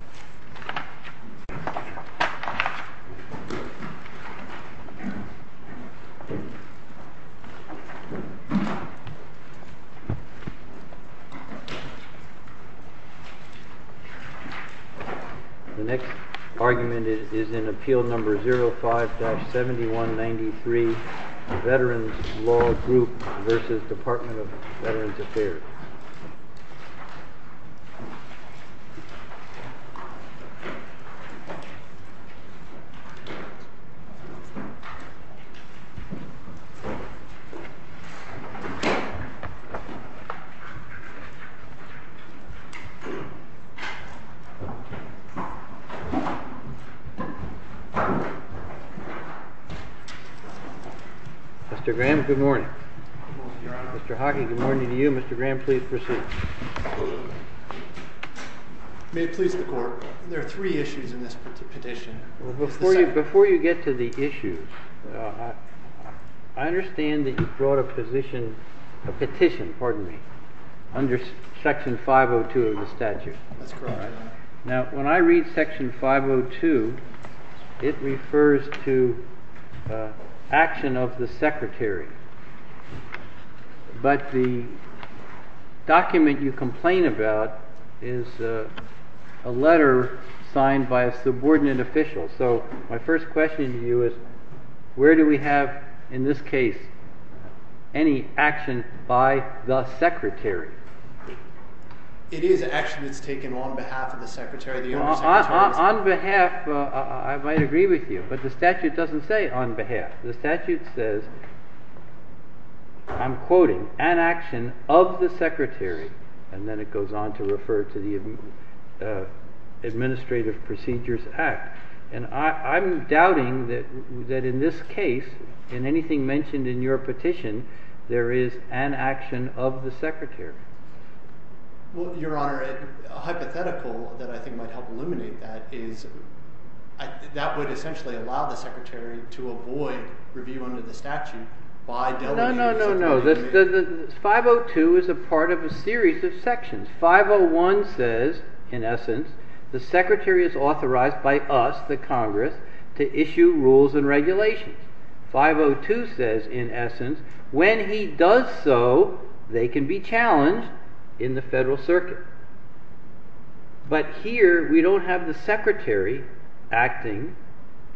The next argument is in Appeal No. 05-7193, Veterans Law Group v. Department of Veterans There are three issues in this petition. Before you get to the issues, I understand that you brought a petition under Section 502 of the statute. That's correct. Now, when I read Section 502, it refers to action of the Secretary. But the document you complain about is a letter signed by a subordinate official. So my first question to you is, where do we have, in this case, any action by the Secretary? It is action that's taken on behalf of the Secretary. On behalf, I might agree with you, but the statute doesn't say on behalf. The statute says, I'm quoting, an action of the Secretary. And then it goes on to refer to the Administrative Procedures Act. And I'm doubting that in this case, in anything mentioned in your petition, there is an action of the Secretary. Well, Your Honor, a hypothetical that I think might help eliminate that is, that would essentially allow the Secretary to avoid review under the statute by delegating subordinates. No, no, no. 502 is a part of a series of sections. 501 says, in essence, the Secretary is authorized by us, the Congress, to issue rules and regulations. 502 says, in essence, when he does so, they can be challenged in the Federal Circuit. But here, we don't have the Secretary acting,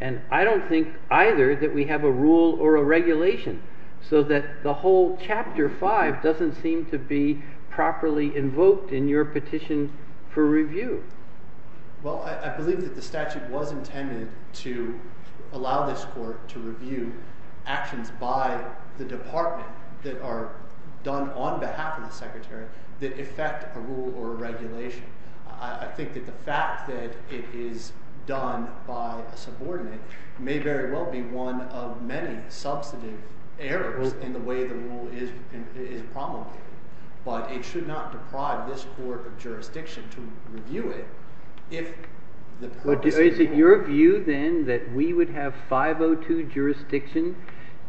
and I don't think either that we have a rule or a regulation. So that the whole Chapter 5 doesn't seem to be properly invoked in your petition for review. Well, I believe that the statute was intended to allow this Court to review actions by the Department that are done on behalf of the Secretary that affect a rule or a regulation. I think that the fact that it is done by a subordinate may very well be one of many substantive errors in the way the rule is promulgated. But it should not deprive this Court of jurisdiction to review it if the purpose is to— Is it your view, then, that we would have 502 jurisdiction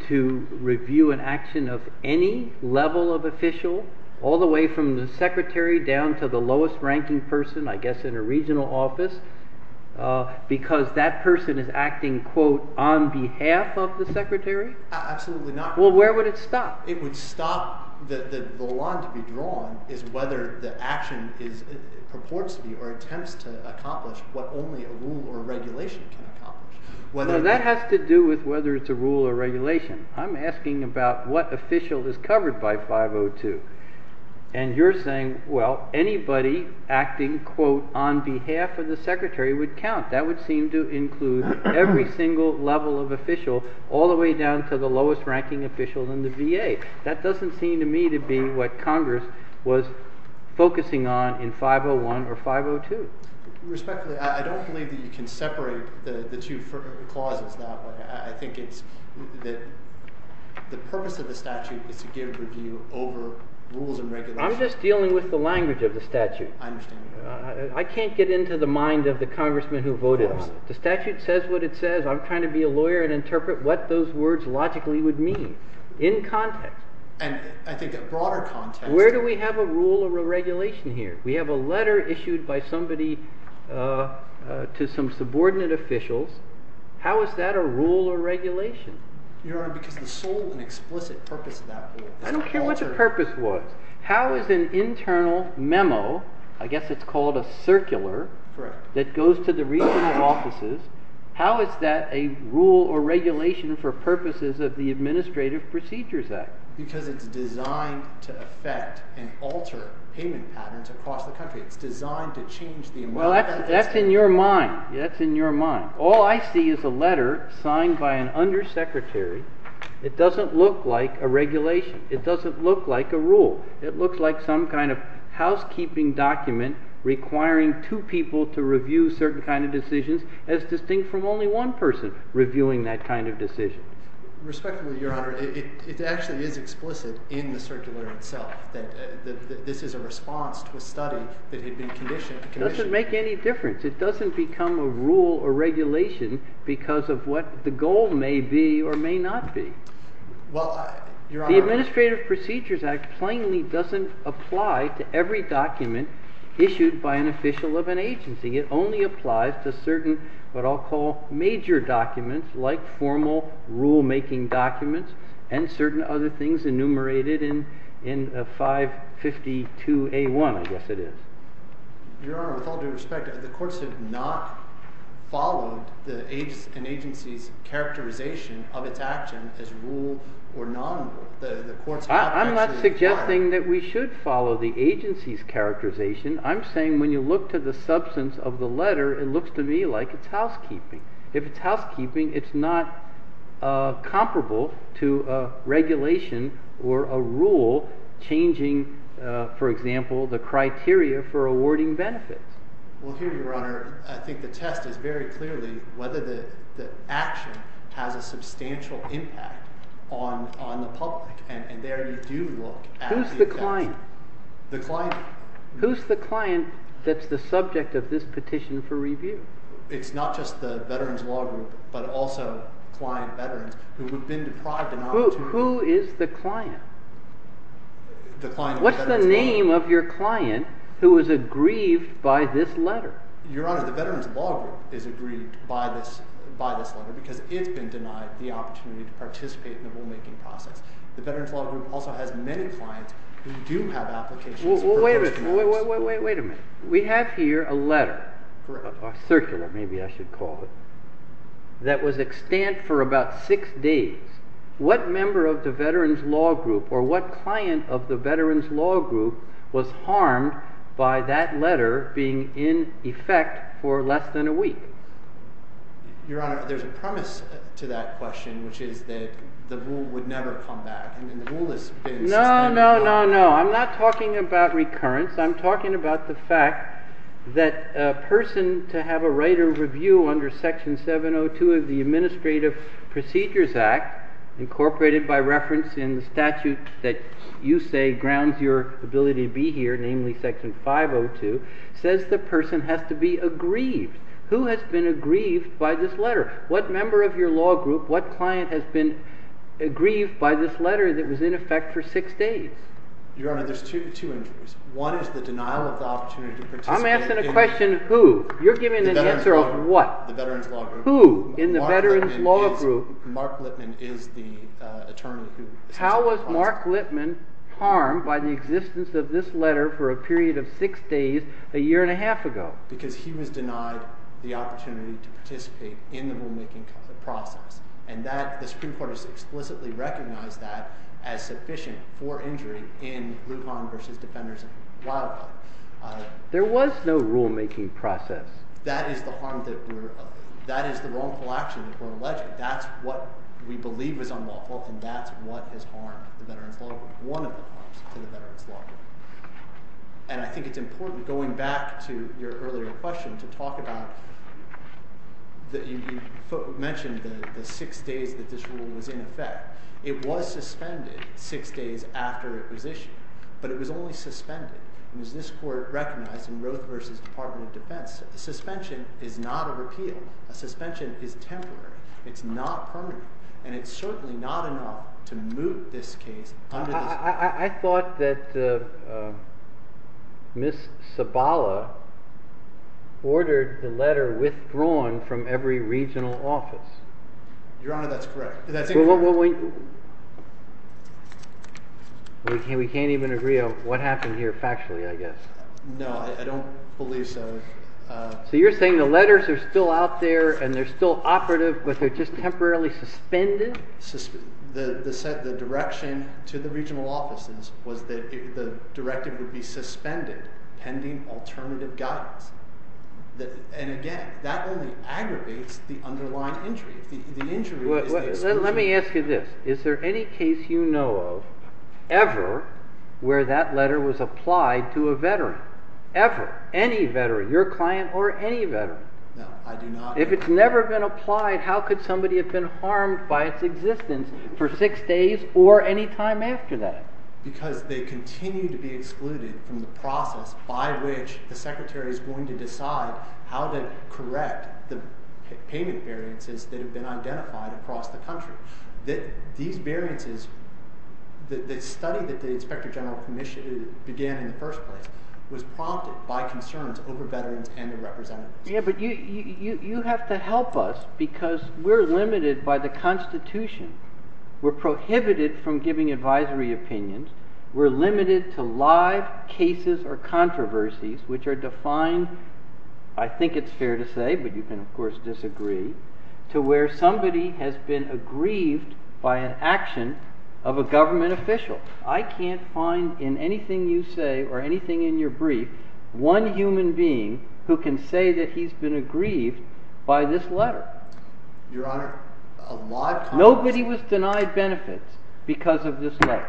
to review an action of any level of official, all the way from the Secretary down to the lowest-ranking person, I guess, in a regional office, because that person is acting, quote, on behalf of the Secretary? Absolutely not. Well, where would it stop? It would stop—the line to be drawn is whether the action purports to be or attempts to accomplish what only a rule or regulation can accomplish. Well, that has to do with whether it's a rule or regulation. I'm asking about what official is covered by 502. And you're saying, well, anybody acting, quote, on behalf of the Secretary would count. That would seem to include every single level of official, all the way down to the lowest-ranking official in the VA. That doesn't seem to me to be what Congress was focusing on in 501 or 502. Respectfully, I don't believe that you can separate the two clauses that way. I think it's that the purpose of the statute is to give review over rules and regulations. I'm just dealing with the language of the statute. I understand. I can't get into the mind of the congressman who voted on it. The statute says what it says. I'm trying to be a lawyer and interpret what those words logically would mean in context. And I think a broader context— Where do we have a rule or a regulation here? We have a letter issued by somebody to some subordinate officials. How is that a rule or regulation? Your Honor, because the sole and explicit purpose of that rule— I don't care what the purpose was. How is an internal memo—I guess it's called a circular—that goes to the regional offices, how is that a rule or regulation for purposes of the Administrative Procedures Act? Because it's designed to affect and alter payment patterns across the country. It's designed to change the environment. That's in your mind. That's in your mind. All I see is a letter signed by an undersecretary. It doesn't look like a regulation. It doesn't look like a rule. It looks like some kind of housekeeping document requiring two people to review certain kind of decisions as distinct from only one person reviewing that kind of decision. Respectfully, Your Honor, it actually is explicit in the circular itself that this is a response to a study that had been conditioned. It doesn't make any difference. It doesn't become a rule or regulation because of what the goal may be or may not be. Well, Your Honor— The Administrative Procedures Act plainly doesn't apply to every document issued by an official of an agency. It only applies to certain what I'll call major documents like formal rulemaking documents and certain other things enumerated in 552A1, I guess it is. Your Honor, with all due respect, the courts have not followed an agency's characterization of its action as rule or non-rule. I'm not suggesting that we should follow the agency's characterization. I'm saying when you look to the substance of the letter, it looks to me like it's housekeeping. If it's housekeeping, it's not comparable to regulation or a rule changing, for example, the criteria for awarding benefits. Well, here, Your Honor, I think the test is very clearly whether the action has a substantial impact on the public. And there you do look at the— Who's the client? The client— Who's the client that's the subject of this petition for review? It's not just the Veterans Law Group, but also client veterans who have been deprived of— Who is the client? The client— What's the name of your client who is aggrieved by this letter? Your Honor, the Veterans Law Group is aggrieved by this letter because it's been denied the opportunity to participate in the rulemaking process. The Veterans Law Group also has many clients who do have applications— Wait a minute. We have here a letter, circular maybe I should call it, that was extant for about six days. What member of the Veterans Law Group or what client of the Veterans Law Group was harmed by that letter being in effect for less than a week? Your Honor, there's a premise to that question, which is that the rule would never come back. I mean, the rule has been— No, no, no, no. I'm not talking about recurrence. I'm talking about the fact that a person to have a right of review under Section 702 of the Administrative Procedures Act, incorporated by reference in the statute that you say grounds your ability to be here, namely Section 502, says the person has to be aggrieved. Who has been aggrieved by this letter? What member of your law group, what client has been aggrieved by this letter that was in effect for six days? Your Honor, there's two injuries. One is the denial of the opportunity to participate in— I'm asking a question of who? You're giving an answer of what? The Veterans Law Group. Who in the Veterans Law Group— Mark Lippman is the attorney who— How was Mark Lippman harmed by the existence of this letter for a period of six days a year and a half ago? Because he was denied the opportunity to participate in the rulemaking process. And that—the Supreme Court has explicitly recognized that as sufficient for injury in Lujan v. Defenders and Wilder. There was no rulemaking process. That is the harm that we're—that is the wrongful action that we're alleging. That's what we believe is unlawful, and that's what has harmed the Veterans Law Group, one of the harms to the Veterans Law Group. And I think it's important, going back to your earlier question, to talk about—you mentioned the six days that this rule was in effect. It was suspended six days after it was issued, but it was only suspended. And as this Court recognized in Roe v. Department of Defense, a suspension is not a repeal. A suspension is temporary. It's not permanent. And it's certainly not enough to move this case under this— I thought that Ms. Sabala ordered the letter withdrawn from every regional office. Your Honor, that's correct. That's incorrect. We can't even agree on what happened here factually, I guess. No, I don't believe so. So you're saying the letters are still out there and they're still operative, but they're just temporarily suspended? The direction to the regional offices was that the directive would be suspended pending alternative guidance. And again, that only aggravates the underlying injury. The injury is the exclusion. Let me ask you this. Is there any case you know of ever where that letter was applied to a Veteran? Ever. Any Veteran. Your client or any Veteran. No, I do not. If it's never been applied, how could somebody have been harmed by its existence for six days or any time after that? Because they continue to be excluded from the process by which the Secretary is going to decide how to correct the payment variances that have been identified across the country. These variances, the study that the Inspector General began in the first place, was prompted by concerns over Veterans and their representatives. Yeah, but you have to help us because we're limited by the Constitution. We're prohibited from giving advisory opinions. We're limited to live cases or controversies which are defined, I think it's fair to say, but you can of course disagree, to where somebody has been aggrieved by an action of a government official. I can't find in anything you say or anything in your brief one human being who can say that he's been aggrieved by this letter. Your Honor, a lot of times— Nobody was denied benefits because of this letter.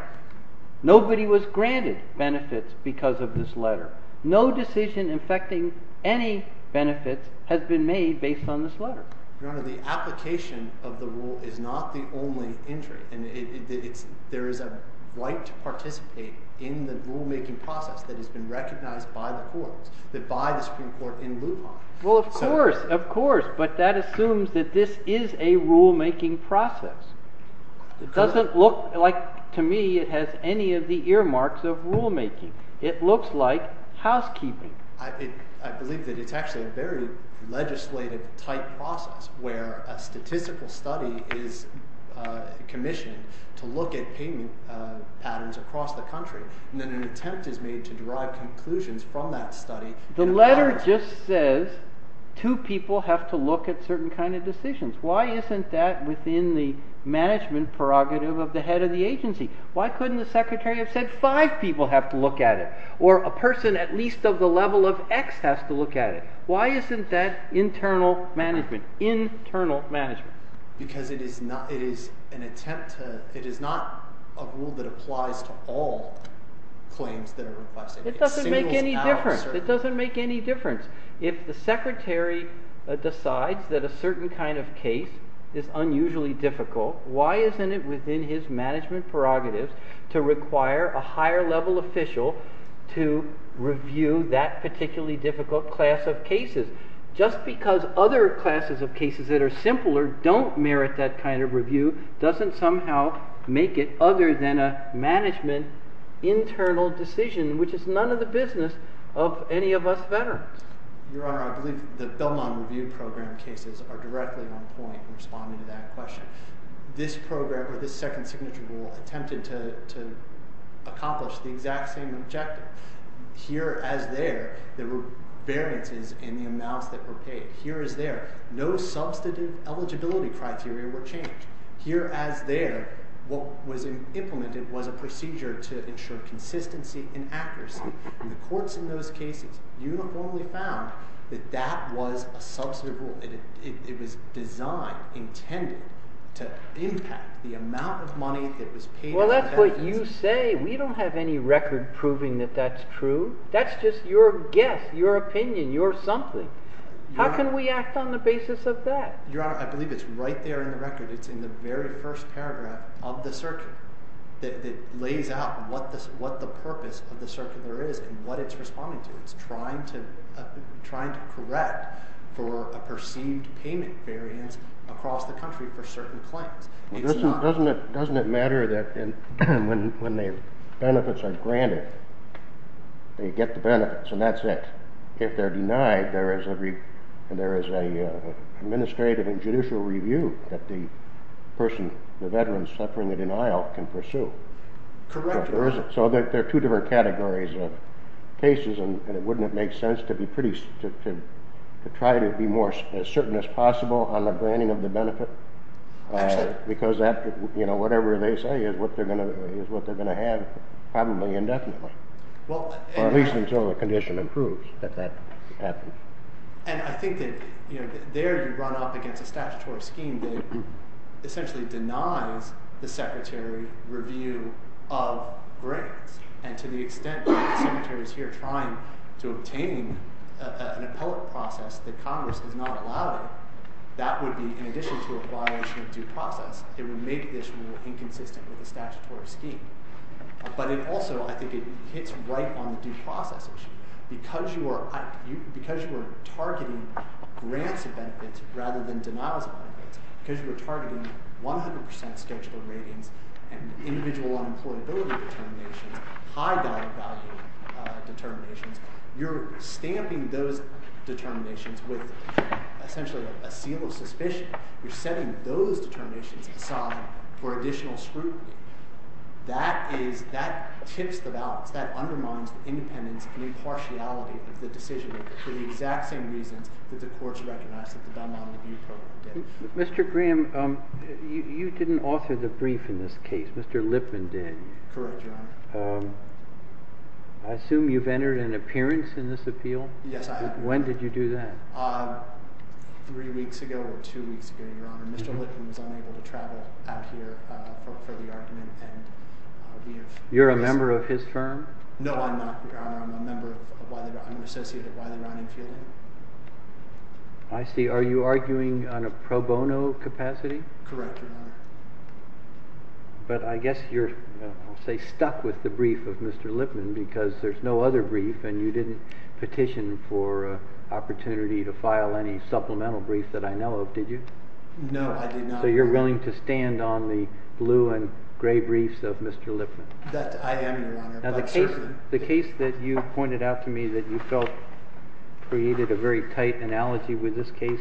Nobody was granted benefits because of this letter. No decision affecting any benefits has been made based on this letter. Your Honor, the application of the rule is not the only injury. There is a right to participate in the rulemaking process that has been recognized by the Supreme Court in Lupon. Well, of course, of course, but that assumes that this is a rulemaking process. It doesn't look like, to me, it has any of the earmarks of rulemaking. It looks like housekeeping. I believe that it's actually a very legislative type process where a statistical study is commissioned to look at payment patterns across the country, and then an attempt is made to derive conclusions from that study. The letter just says two people have to look at certain kind of decisions. Why isn't that within the management prerogative of the head of the agency? Why couldn't the Secretary have said five people have to look at it? Or a person at least of the level of X has to look at it. Why isn't that internal management? Because it is not a rule that applies to all claims that are requested. It doesn't make any difference. If the Secretary decides that a certain kind of case is unusually difficult, why isn't it within his management prerogatives to require a higher level official to review that particularly difficult class of cases? Just because other classes of cases that are simpler don't merit that kind of review doesn't somehow make it other than a management internal decision, which is none of the business of any of us veterans. Your Honor, I believe the Belmont Review Program cases are directly on point in responding to that question. This program or this second signature rule attempted to accomplish the exact same objective. Here as there, there were variances in the amounts that were paid. Here as there, no substantive eligibility criteria were changed. Here as there, what was implemented was a procedure to ensure consistency and accuracy. In the courts in those cases, you normally found that that was a substantive rule. It was designed, intended, to impact the amount of money that was paid to the veterans. Well, that's what you say. We don't have any record proving that that's true. That's just your guess, your opinion, your something. How can we act on the basis of that? Your Honor, I believe it's right there in the record. It's in the very first paragraph of the circuit that lays out what the purpose of the circuit there is and what it's responding to. It's trying to correct for a perceived payment variance across the country for certain claims. Doesn't it matter that when the benefits are granted, they get the benefits and that's it? If they're denied, there is an administrative and judicial review that the person, the veteran, suffering the denial can pursue. Correct. So there are two different categories of cases. And it wouldn't make sense to try to be as certain as possible on the granting of the benefit because whatever they say is what they're going to have probably indefinitely, or at least until the condition improves that that happens. And I think that there you run up against a statutory scheme that essentially denies the secretary review of grants. And to the extent that the secretary is here trying to obtain an appellate process that Congress has not allowed it, that would be in addition to a violation of due process. It would make this more inconsistent with the statutory scheme. But it also, I think it hits right on the due process issue. Because you are targeting grants of benefits rather than denials of benefits, because you are targeting 100% scheduled ratings and individual unemployability determinations, high value determinations, you're stamping those determinations with essentially a seal of suspicion. You're setting those determinations aside for additional scrutiny. That tips the balance. That undermines the independence and impartiality of the decision for the exact same reasons that the courts recognize that the Dunlop Review Program did. Mr. Graham, you didn't author the brief in this case. Mr. Lipman did. Correct, Your Honor. I assume you've entered an appearance in this appeal? Yes, I have. When did you do that? Three weeks ago or two weeks ago, Your Honor. Mr. Lipman was unable to travel out here for the argument. You're a member of his firm? No, I'm not, Your Honor. I'm an associate at Wiley Ronnie Fielding. I see. Are you arguing on a pro bono capacity? Correct, Your Honor. But I guess you're, I'll say, stuck with the brief of Mr. Lipman because there's no other brief and you didn't petition for an opportunity to file any supplemental brief that I know of, did you? No, I did not. So you're willing to stand on the blue and gray briefs of Mr. Lipman? That I am, Your Honor. The case that you pointed out to me that you felt created a very tight analogy with this case,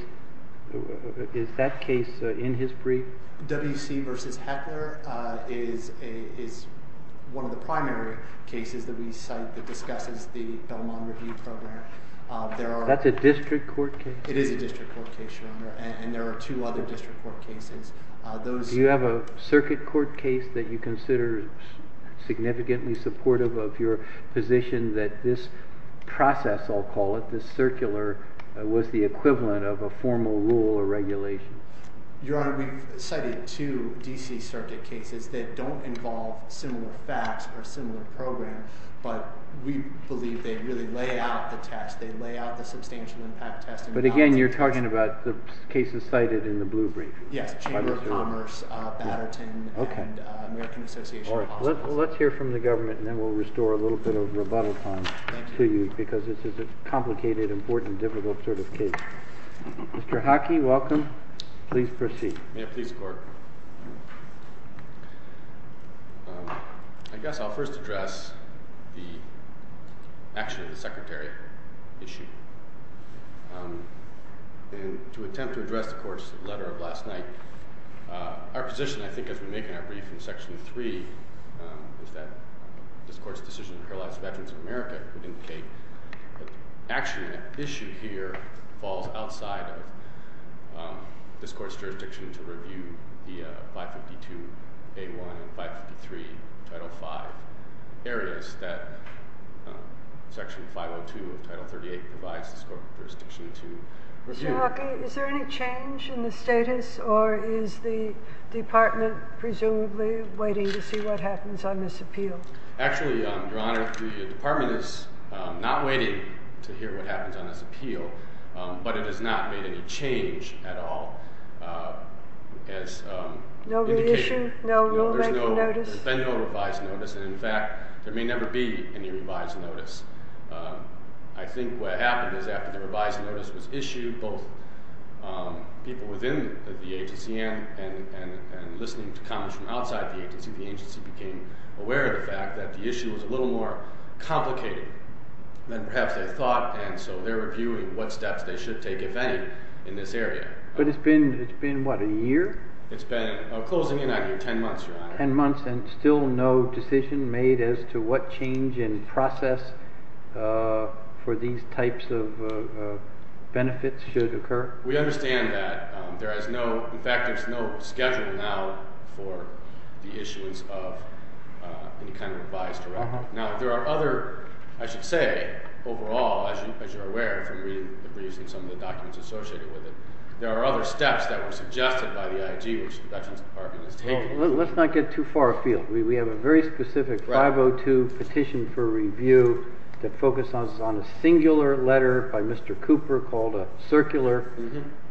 is that case in his brief? W.C. v. Heckler is one of the primary cases that we cite that discusses the Belmont Review Program. That's a district court case? It is a district court case, Your Honor. And there are two other district court cases. Do you have a circuit court case that you consider significantly supportive of your position that this process, I'll call it, this circular, was the equivalent of a formal rule or regulation? Your Honor, we've cited two D.C. circuit cases that don't involve similar facts or a similar program, but we believe they really lay out the test. They lay out the substantial impact test. But again, you're talking about the cases cited in the blue brief? Yes, Chamber of Commerce, Batterton, and American Association of Hospitals. Let's hear from the government, and then we'll restore a little bit of rebuttal time to you because this is a complicated, important, difficult sort of case. Mr. Hockey, welcome. Please proceed. May it please the Court. I guess I'll first address the action of the Secretary issue. And to attempt to address the Court's letter of last night, our position, I think, as we make our brief in Section 3, is that this Court's decision to paralyze veterans of America would indicate that actually an issue here falls outside of this Court's jurisdiction to review the 552A1 and 553 Title V areas that Section 502 of Title 38 provides this Court with jurisdiction to review. Mr. Hockey, is there any change in the status, or is the Department presumably waiting to see what happens on this appeal? Actually, Your Honor, the Department is not waiting to hear what happens on this appeal, but it has not made any change at all as indicated. No revision? No rulemaking notice? There's been no revised notice, and in fact there may never be any revised notice. I think what happened is after the revised notice was issued, both people within the agency and listening to comments from outside the agency, the agency became aware of the fact that the issue was a little more complicated than perhaps they thought, and so they're reviewing what steps they should take, if any, in this area. But it's been, what, a year? It's been, closing in on you, 10 months, Your Honor. 10 months and still no decision made as to what change in process for these types of benefits should occur? We understand that. In fact, there's no schedule now for the issues of any kind of revised directive. Now, there are other, I should say, overall, as you're aware, from reading the briefs and some of the documents associated with it, there are other steps that were suggested by the IG, which the Dutchman's Department has taken. Well, let's not get too far afield. We have a very specific 502 petition for review that focuses on a singular letter by Mr. Cooper called a circular,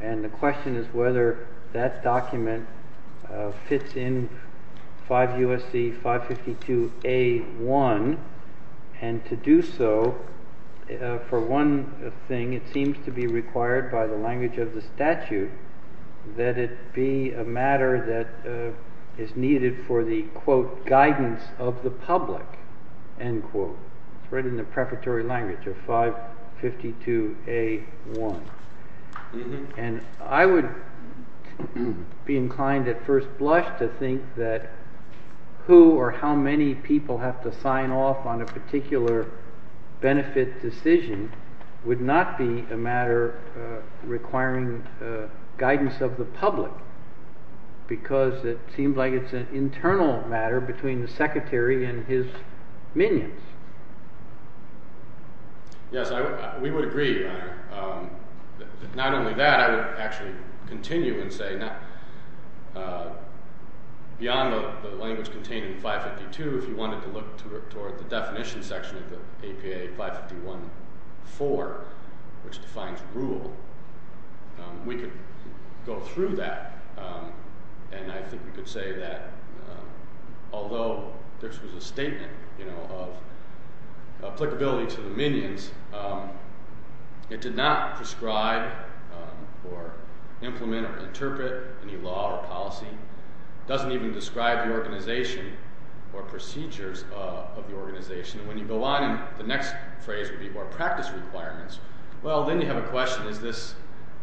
and the question is whether that document fits in 5 U.S.C. 552 A.1. And to do so, for one thing, it seems to be required by the language of the statute that it be a matter that is needed for the, quote, guidance of the public, end quote. It's written in the preparatory language of 552 A.1. And I would be inclined at first blush to think that who or how many people have to sign off on a particular benefit decision would not be a matter requiring guidance of the public because it seems like it's an internal matter between the Secretary and his minions. Yes, we would agree, Your Honor, that not only that, I would actually continue and say beyond the language contained in 552, if you wanted to look toward the definition section of the APA 551.4, which defines rule, we could go through that, and I think we could say that although this was a statement of applicability to the minions, it did not prescribe or implement or interpret any law or policy. It doesn't even describe the organization or procedures of the organization. And when you go on, the next phrase would be more practice requirements. Well, then you have a question. Is this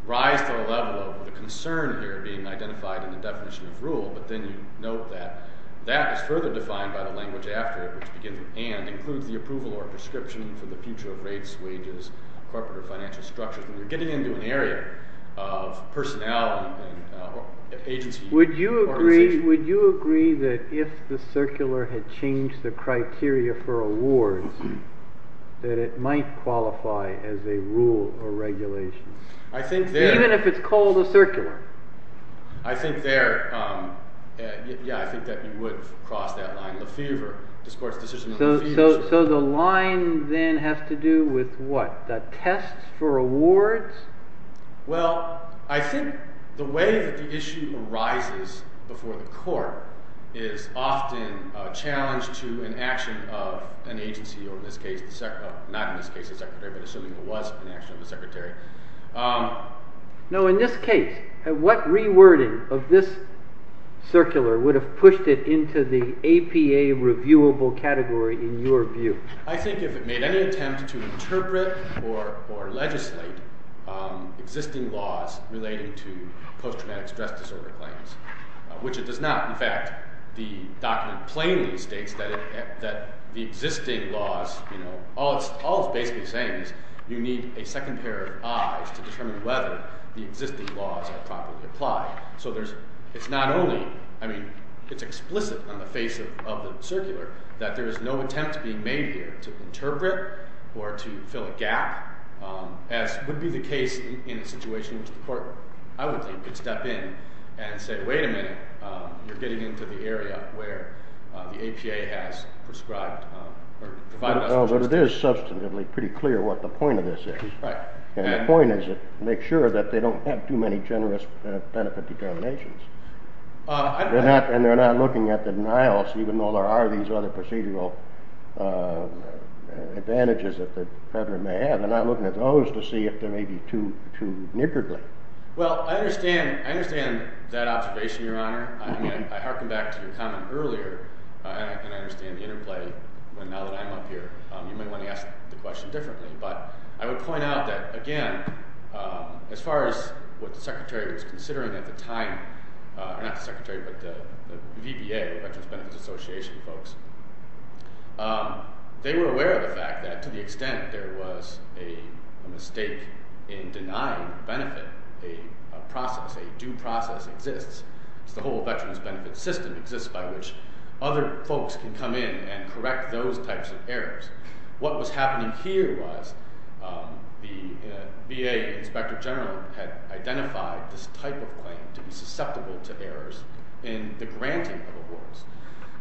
rise to the level of the concern here being identified in the definition of rule? But then you note that that was further defined by the language after it, which begins with and includes the approval or prescription for the future of rates, wages, corporate or financial structures. And you're getting into an area of personality and agency. Would you agree that if the circular had changed the criteria for awards, that it might qualify as a rule or regulation? I think there. Even if it's called a circular. I think there. Yeah, I think that you would cross that line. Lefevre, this court's decision on Lefevre. So the line then has to do with what? The tests for awards? Well, I think the way that the issue arises before the court is often a challenge to an action of an agency or, in this case, not in this case a secretary, but assuming it was an action of a secretary. No, in this case, what rewording of this circular would have pushed it into the APA reviewable category in your view? I think if it made any attempt to interpret or legislate existing laws relating to post-traumatic stress disorder claims, which it does not. In fact, the document plainly states that the existing laws – all it's basically saying is you need a second pair of eyes to determine whether the existing laws are properly applied. So it's not only – I mean, it's explicit on the face of the circular that there is no attempt being made here to interpret or to fill a gap, as would be the case in a situation which the court, I would think, could step in and say, wait a minute, you're getting into the area where the APA has prescribed or provided us with… Although it is substantively pretty clear what the point of this is. Right. And the point is to make sure that they don't have too many generous benefit determinations. And they're not looking at the denials, even though there are these other procedural advantages that the federal may have. They're not looking at those to see if there may be too niggardly. Well, I understand that observation, Your Honor. I mean, I hearken back to your comment earlier, and I understand the interplay. But now that I'm up here, you might want to ask the question differently. But I would point out that, again, as far as what the Secretary was considering at the time – or not the Secretary, but the VBA, the Veterans Benefits Association folks – they were aware of the fact that, to the extent there was a mistake in denying benefit, a process, a due process exists. It's the whole Veterans Benefit System exists by which other folks can come in and correct those types of errors. What was happening here was the VA Inspector General had identified this type of claim to be susceptible to errors in the granting of awards.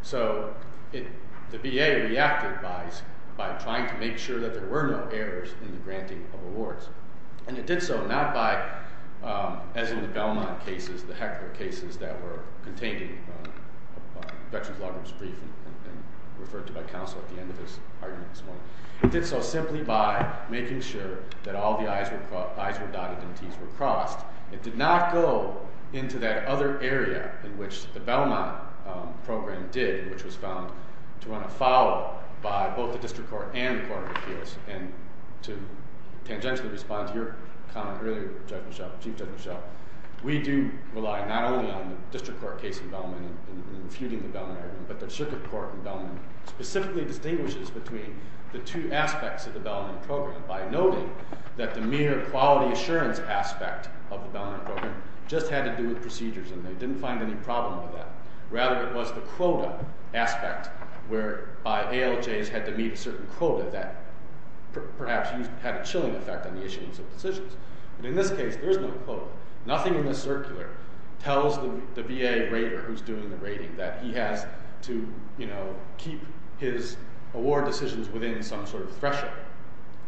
So the VA reacted by trying to make sure that there were no errors in the granting of awards. And it did so not by, as in the Belmont cases, the heckler cases that were contained in Veterans Law Group's briefing and referred to by counsel at the end of his argument this morning. It did so simply by making sure that all the I's were dotted and T's were crossed. It did not go into that other area in which the Belmont program did, which was found to run afoul by both the District Court and the Court of Appeals. And to tangentially respond to your comment earlier, Judge Mischel, Chief Judge Mischel, we do rely not only on the District Court case in Belmont and refuting the Belmont argument, but the Circuit Court in Belmont specifically distinguishes between the two aspects of the Belmont program by noting that the mere quality assurance aspect of the Belmont program just had to do with procedures, and they didn't find any problem with that. Rather, it was the quota aspect where by ALJs had to meet a certain quota that perhaps had a chilling effect on the issuance of decisions. But in this case, there is no quota. Nothing in this circular tells the VA rater who's doing the rating that he has to keep his award decisions within some sort of threshold.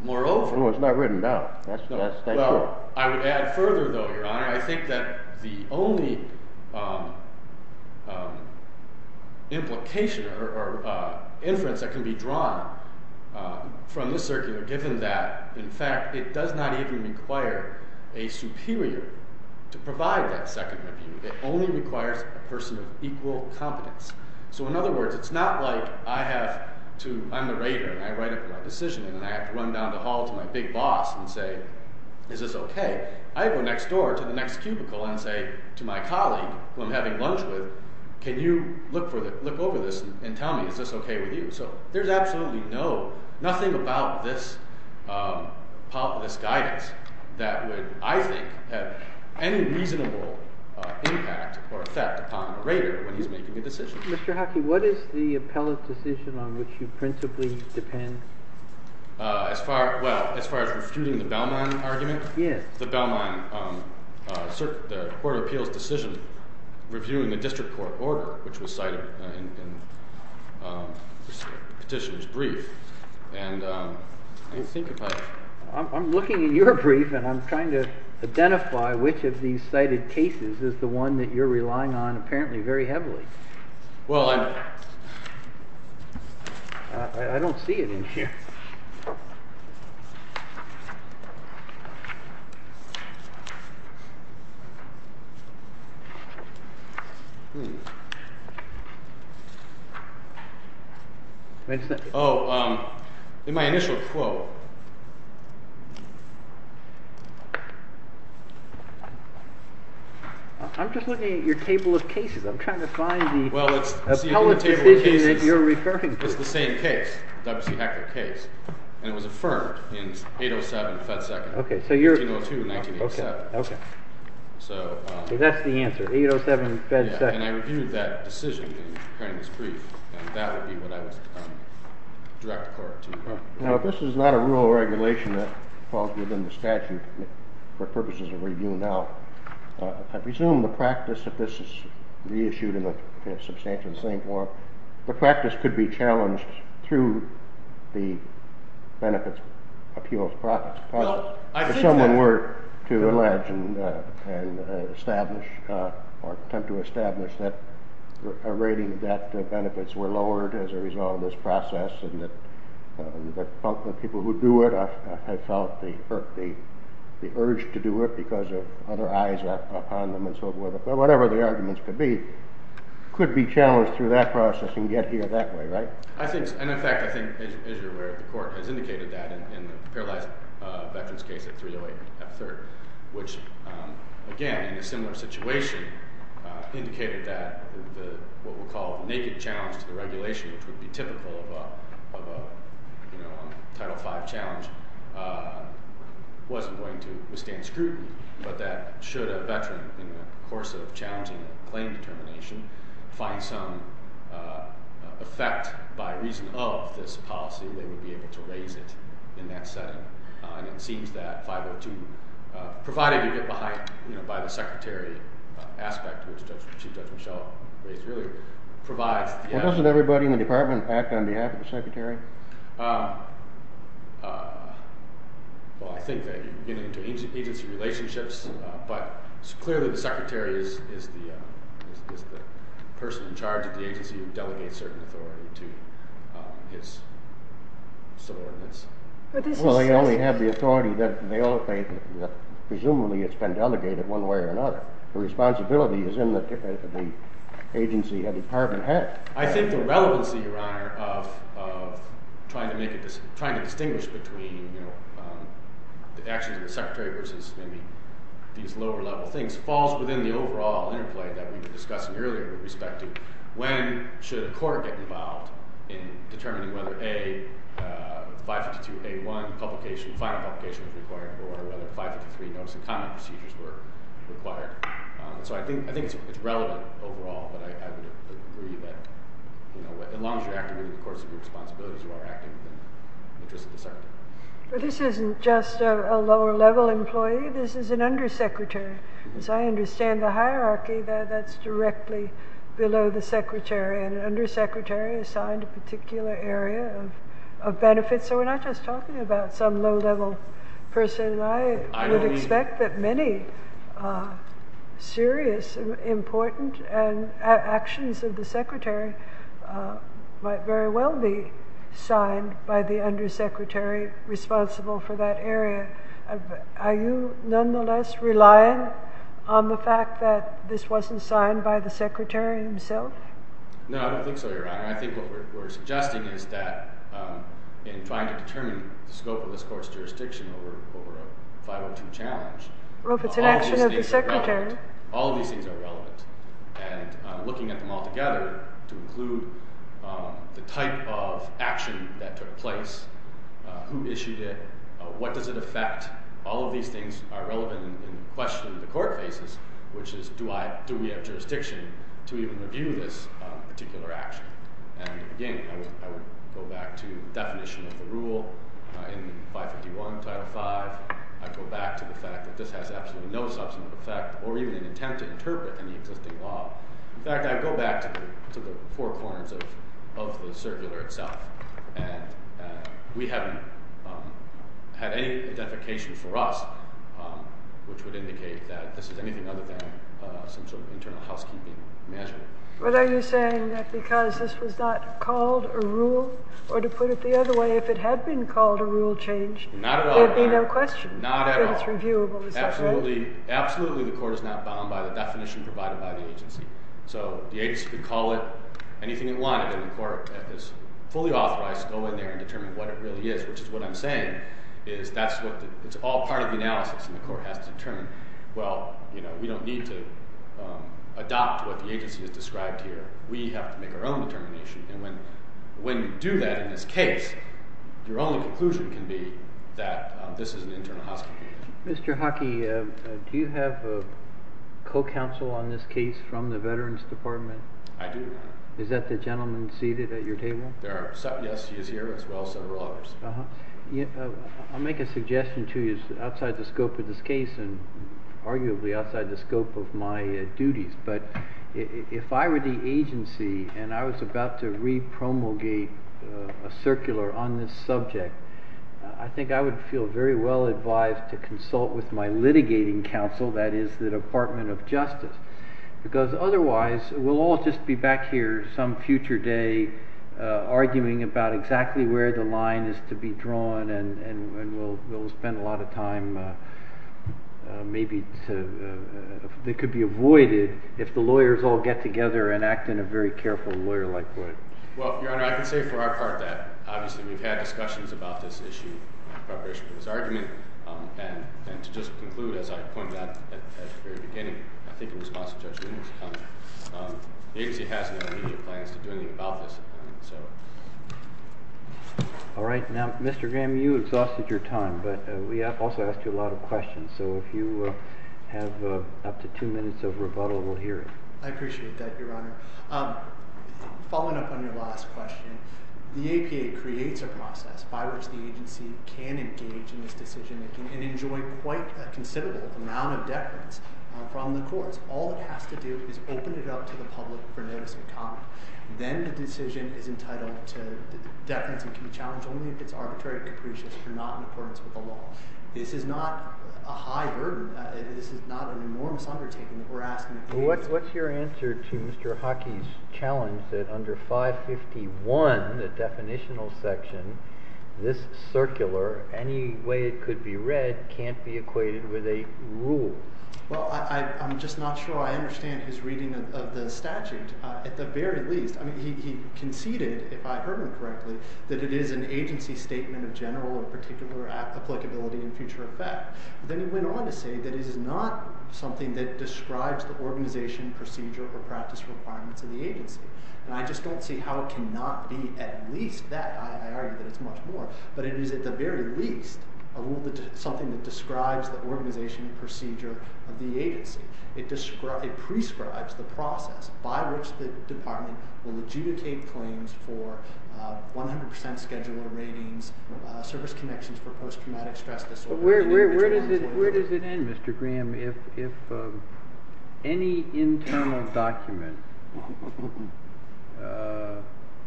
Moreover— No, it's not written down. Well, I would add further, though, Your Honor, I think that the only implication or inference that can be drawn from this circular, given that, in fact, it does not even require a superior to provide that second review. It only requires a person of equal competence. So, in other words, it's not like I have to—I'm the rater, and I write up my decision, and I have to run down the hall to my big boss and say, is this okay? I go next door to the next cubicle and say to my colleague, who I'm having lunch with, can you look over this and tell me, is this okay with you? So there's absolutely nothing about this guidance that would, I think, have any reasonable impact or effect upon the rater when he's making a decision. Mr. Hockey, what is the appellate decision on which you principally depend? Well, as far as refuting the Belmont argument? Yes. The Belmont court of appeals decision reviewing the district court order, which was cited in the petitioner's brief. And I think if I— I'm looking at your brief, and I'm trying to identify which of these cited cases is the one that you're relying on apparently very heavily. Well, I'm— I don't see it in here. Oh, in my initial quote. I'm just looking at your table of cases. I'm trying to find the appellate decision that you're referring to. Well, it's the same case, the W.C. Heckler case, and it was affirmed in 807, Fed Second. OK, so you're— 1802, 1987. OK. So— So that's the answer, 807, Fed Second. Yeah, and I reviewed that decision in this brief, and that would be what I would direct the court to. Now, if this is not a rule or regulation that falls within the statute for purposes of review now, I presume the practice, if this is reissued in a substantial and sane form, the practice could be challenged through the benefits, appeals, profits process. Well, I think that— If someone were to allege and establish or attempt to establish that a rating of debt benefits were lowered as a result of this process and that the people who do it have felt the urge to do it because of other eyes upon them and so forth, whatever the arguments could be, could be challenged through that process and get here that way, right? I think—and, in fact, I think, as you're aware, the court has indicated that in the paralyzed veterans case at 308 F. Third, which, again, in a similar situation, indicated that what we'll call a naked challenge to the regulation, which would be typical of a Title V challenge, wasn't going to withstand scrutiny, but that should a veteran, in the course of challenging a claim determination, find some effect by reason of this policy, they would be able to raise it in that setting. And it seems that 502, provided you get behind, you know, by the secretary aspect, which Judge Michelle raised earlier, provides— Well, doesn't everybody in the department act on behalf of the secretary? Well, I think that you're getting into agency relationships, but clearly the secretary is the person in charge of the agency who delegates certain authority to his subordinates. Well, they only have the authority that—presumably it's been delegated one way or another. The responsibility is in the agency, the department has. I think the relevancy, Your Honor, of trying to distinguish between the actions of the secretary versus maybe these lower-level things falls within the overall interplay that we were discussing earlier with respect to when should a court get involved in determining whether A, 552A1 publication, final publication, was required, or whether 553 notice of comment procedures were required. So I think it's relevant overall, but I would agree that, you know, as long as you're acting within the course of your responsibilities, you are acting in the interest of the secretary. But this isn't just a lower-level employee, this is an undersecretary. As I understand the hierarchy, that's directly below the secretary, and an undersecretary assigned a particular area of benefit, so we're not just talking about some low-level person. And I would expect that many serious and important actions of the secretary might very well be signed by the undersecretary responsible for that area. Are you nonetheless relying on the fact that this wasn't signed by the secretary himself? No, I don't think so, Your Honor. I think what we're suggesting is that in trying to determine the scope of this court's jurisdiction over a 502 challenge, all of these things are relevant. And looking at them all together to include the type of action that took place, who issued it, what does it affect, all of these things are relevant in the question the court faces, which is do we have jurisdiction to even review this particular action. And again, I would go back to the definition of the rule in 551, Title V. I'd go back to the fact that this has absolutely no substantive effect, or even an attempt to interpret any existing law. In fact, I'd go back to the four corners of the circular itself. And we haven't had any identification for us which would indicate that this is anything other than some sort of internal housekeeping measure. But are you saying that because this was not called a rule, or to put it the other way, if it had been called a rule change, Not at all, Your Honor. there'd be no question. Not at all. That it's reviewable, is that right? Absolutely. Absolutely the court is not bound by the definition provided by the agency. So the agency could call it anything it wanted, and the court is fully authorized to go in there and determine what it really is, which is what I'm saying is that it's all part of the analysis, and the court has to determine. Well, we don't need to adopt what the agency has described here. We have to make our own determination. And when you do that in this case, your only conclusion can be that this is an internal housekeeping measure. Mr. Hockey, do you have a co-counsel on this case from the Veterans Department? I do, Your Honor. Is that the gentleman seated at your table? Yes, he is here as well as several others. I'll make a suggestion to you outside the scope of this case and arguably outside the scope of my duties, but if I were the agency and I was about to re-promulgate a circular on this subject, I think I would feel very well advised to consult with my litigating counsel, that is the Department of Justice, because otherwise we'll all just be back here some future day arguing about exactly where the line is to be drawn, and we'll spend a lot of time, maybe, that could be avoided if the lawyers all get together and act in a very careful lawyer-like way. Well, Your Honor, I can say for our part that, obviously, we've had discussions about this issue in preparation for this argument, and to just conclude, as I pointed out at the very beginning, I think in response to Judge Linder's comment, the agency has no immediate plans to do anything about this. All right. Now, Mr. Graham, you exhausted your time, but we also asked you a lot of questions, so if you have up to two minutes of rebuttal, we'll hear it. I appreciate that, Your Honor. Following up on your last question, the APA creates a process by which the agency can engage in this decision-making and enjoy quite a considerable amount of deference from the courts. All it has to do is open it up to the public for notice of comment. Then the decision is entitled to deference and can be challenged only if it's arbitrary and capricious and not in accordance with the law. This is not a high burden. This is not an enormous undertaking that we're asking. What's your answer to Mr. Hockey's challenge that under 551, the definitional section, this circular, any way it could be read, can't be equated with a rule? Well, I'm just not sure I understand his reading of the statute. At the very least, I mean, he conceded, if I heard him correctly, that it is an agency statement of general or particular applicability in future effect. Then he went on to say that it is not something that describes the organization, procedure, or practice requirements of the agency. And I just don't see how it cannot be at least that. I argue that it's much more. But it is at the very least a rule, something that describes the organization and procedure of the agency. It prescribes the process by which the department will adjudicate claims for 100% scheduler ratings, service connections for post-traumatic stress disorder. Where does it end, Mr. Graham? If any internal document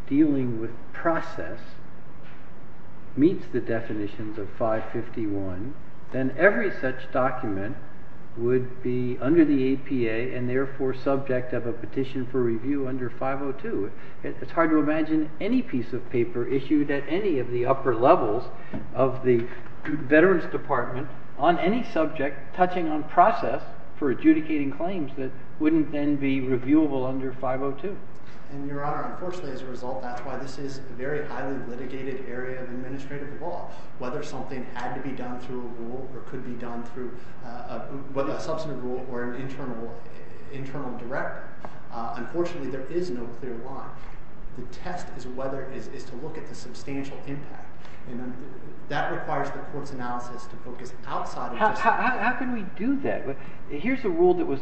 dealing with process meets the definitions of 551, then every such document would be under the APA and therefore subject of a petition for review under 502. It's hard to imagine any piece of paper issued at any of the upper levels of the Veterans Department on any subject touching on process for adjudicating claims that wouldn't then be reviewable under 502. And, Your Honor, unfortunately as a result, that's why this is a very highly litigated area of administrative law. Whether something had to be done through a rule or could be done through a substantive rule or an internal director, unfortunately there is no clear line. The test is to look at the substantial impact. And that requires the court's analysis to focus outside of this. How can we do that? Here's a rule that was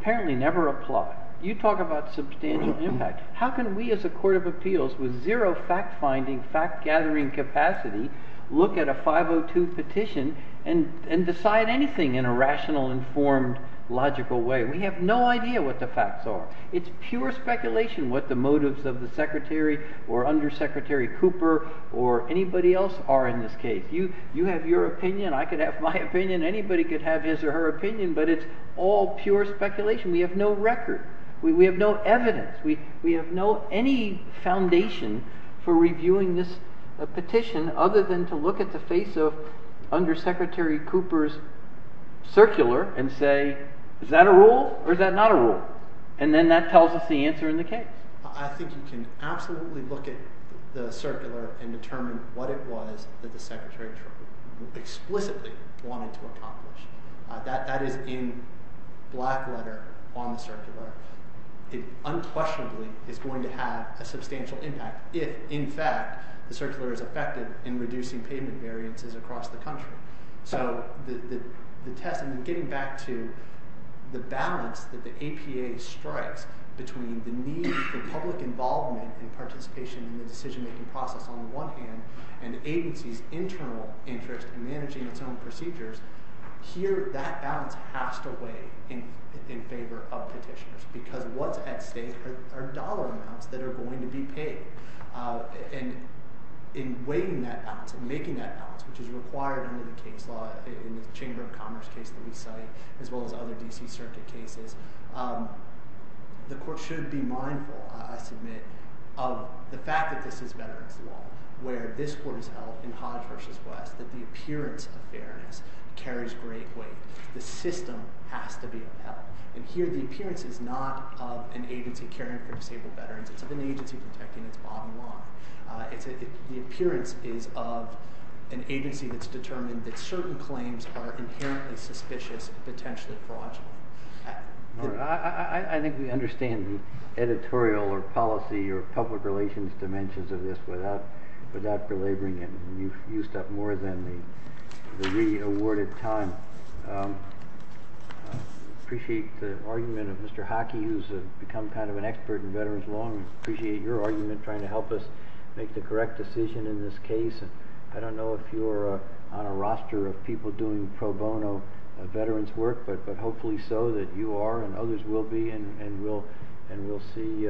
apparently never applied. You talk about substantial impact. How can we as a court of appeals, with zero fact-finding, fact-gathering capacity, look at a 502 petition and decide anything in a rational, informed, logical way? We have no idea what the facts are. It's pure speculation what the motives of the Secretary or Undersecretary Cooper or anybody else are in this case. You have your opinion, I could have my opinion, anybody could have his or her opinion, but it's all pure speculation. We have no record. We have no evidence. We have no any foundation for reviewing this petition other than to look at the face of Undersecretary Cooper's circular and say, is that a rule or is that not a rule? And then that tells us the answer in the case. I think you can absolutely look at the circular and determine what it was that the Secretary explicitly wanted to accomplish. That is in black letter on the circular. It unquestionably is going to have a substantial impact if, in fact, the circular is effective in reducing payment variances across the country. So the test, and getting back to the balance that the APA strikes between the need for public involvement and participation in the decision-making process on the one hand and the agency's internal interest in managing its own procedures, here that balance has to weigh in favor of petitioners because what's at stake are dollar amounts that are going to be paid. And in weighing that balance and making that balance, which is required under the case law in the Chamber of Commerce case that we cite, as well as other D.C. Circuit cases, the court should be mindful, I submit, of the fact that this is veterans' law, where this court has held in Hodge v. West that the appearance of fairness carries great weight. The system has to be upheld. And here the appearance is not of an agency caring for disabled veterans. It's of an agency protecting its bottom line. The appearance is of an agency that's determined that certain claims are inherently suspicious and potentially fraudulent. I think we understand editorial or policy or public relations dimensions of this without belaboring it. You've used up more than the re-awarded time. I appreciate the argument of Mr. Hockey, who's become kind of an expert in veterans' law. I appreciate your argument trying to help us make the correct decision in this case. I don't know if you're on a roster of people doing pro bono veterans' work, but hopefully so that you are and others will be, and we'll see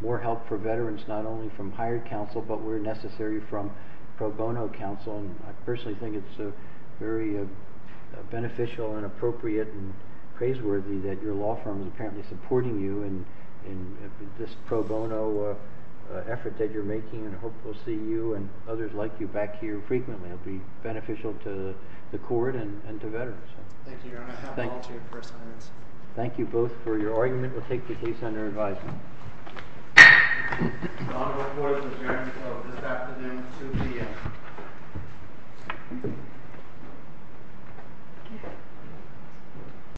more help for veterans not only from higher counsel, but where necessary from pro bono counsel. I personally think it's very beneficial and appropriate and praiseworthy that your law firm is apparently supporting you in this pro bono effort that you're making, and I hope we'll see you and others like you back here frequently. It'll be beneficial to the court and to veterans. Thank you, Your Honor. I apologize for a second. Thank you both for your argument. We'll take the case under advisement. The Honorable Court has adjourned until this afternoon at 2 p.m.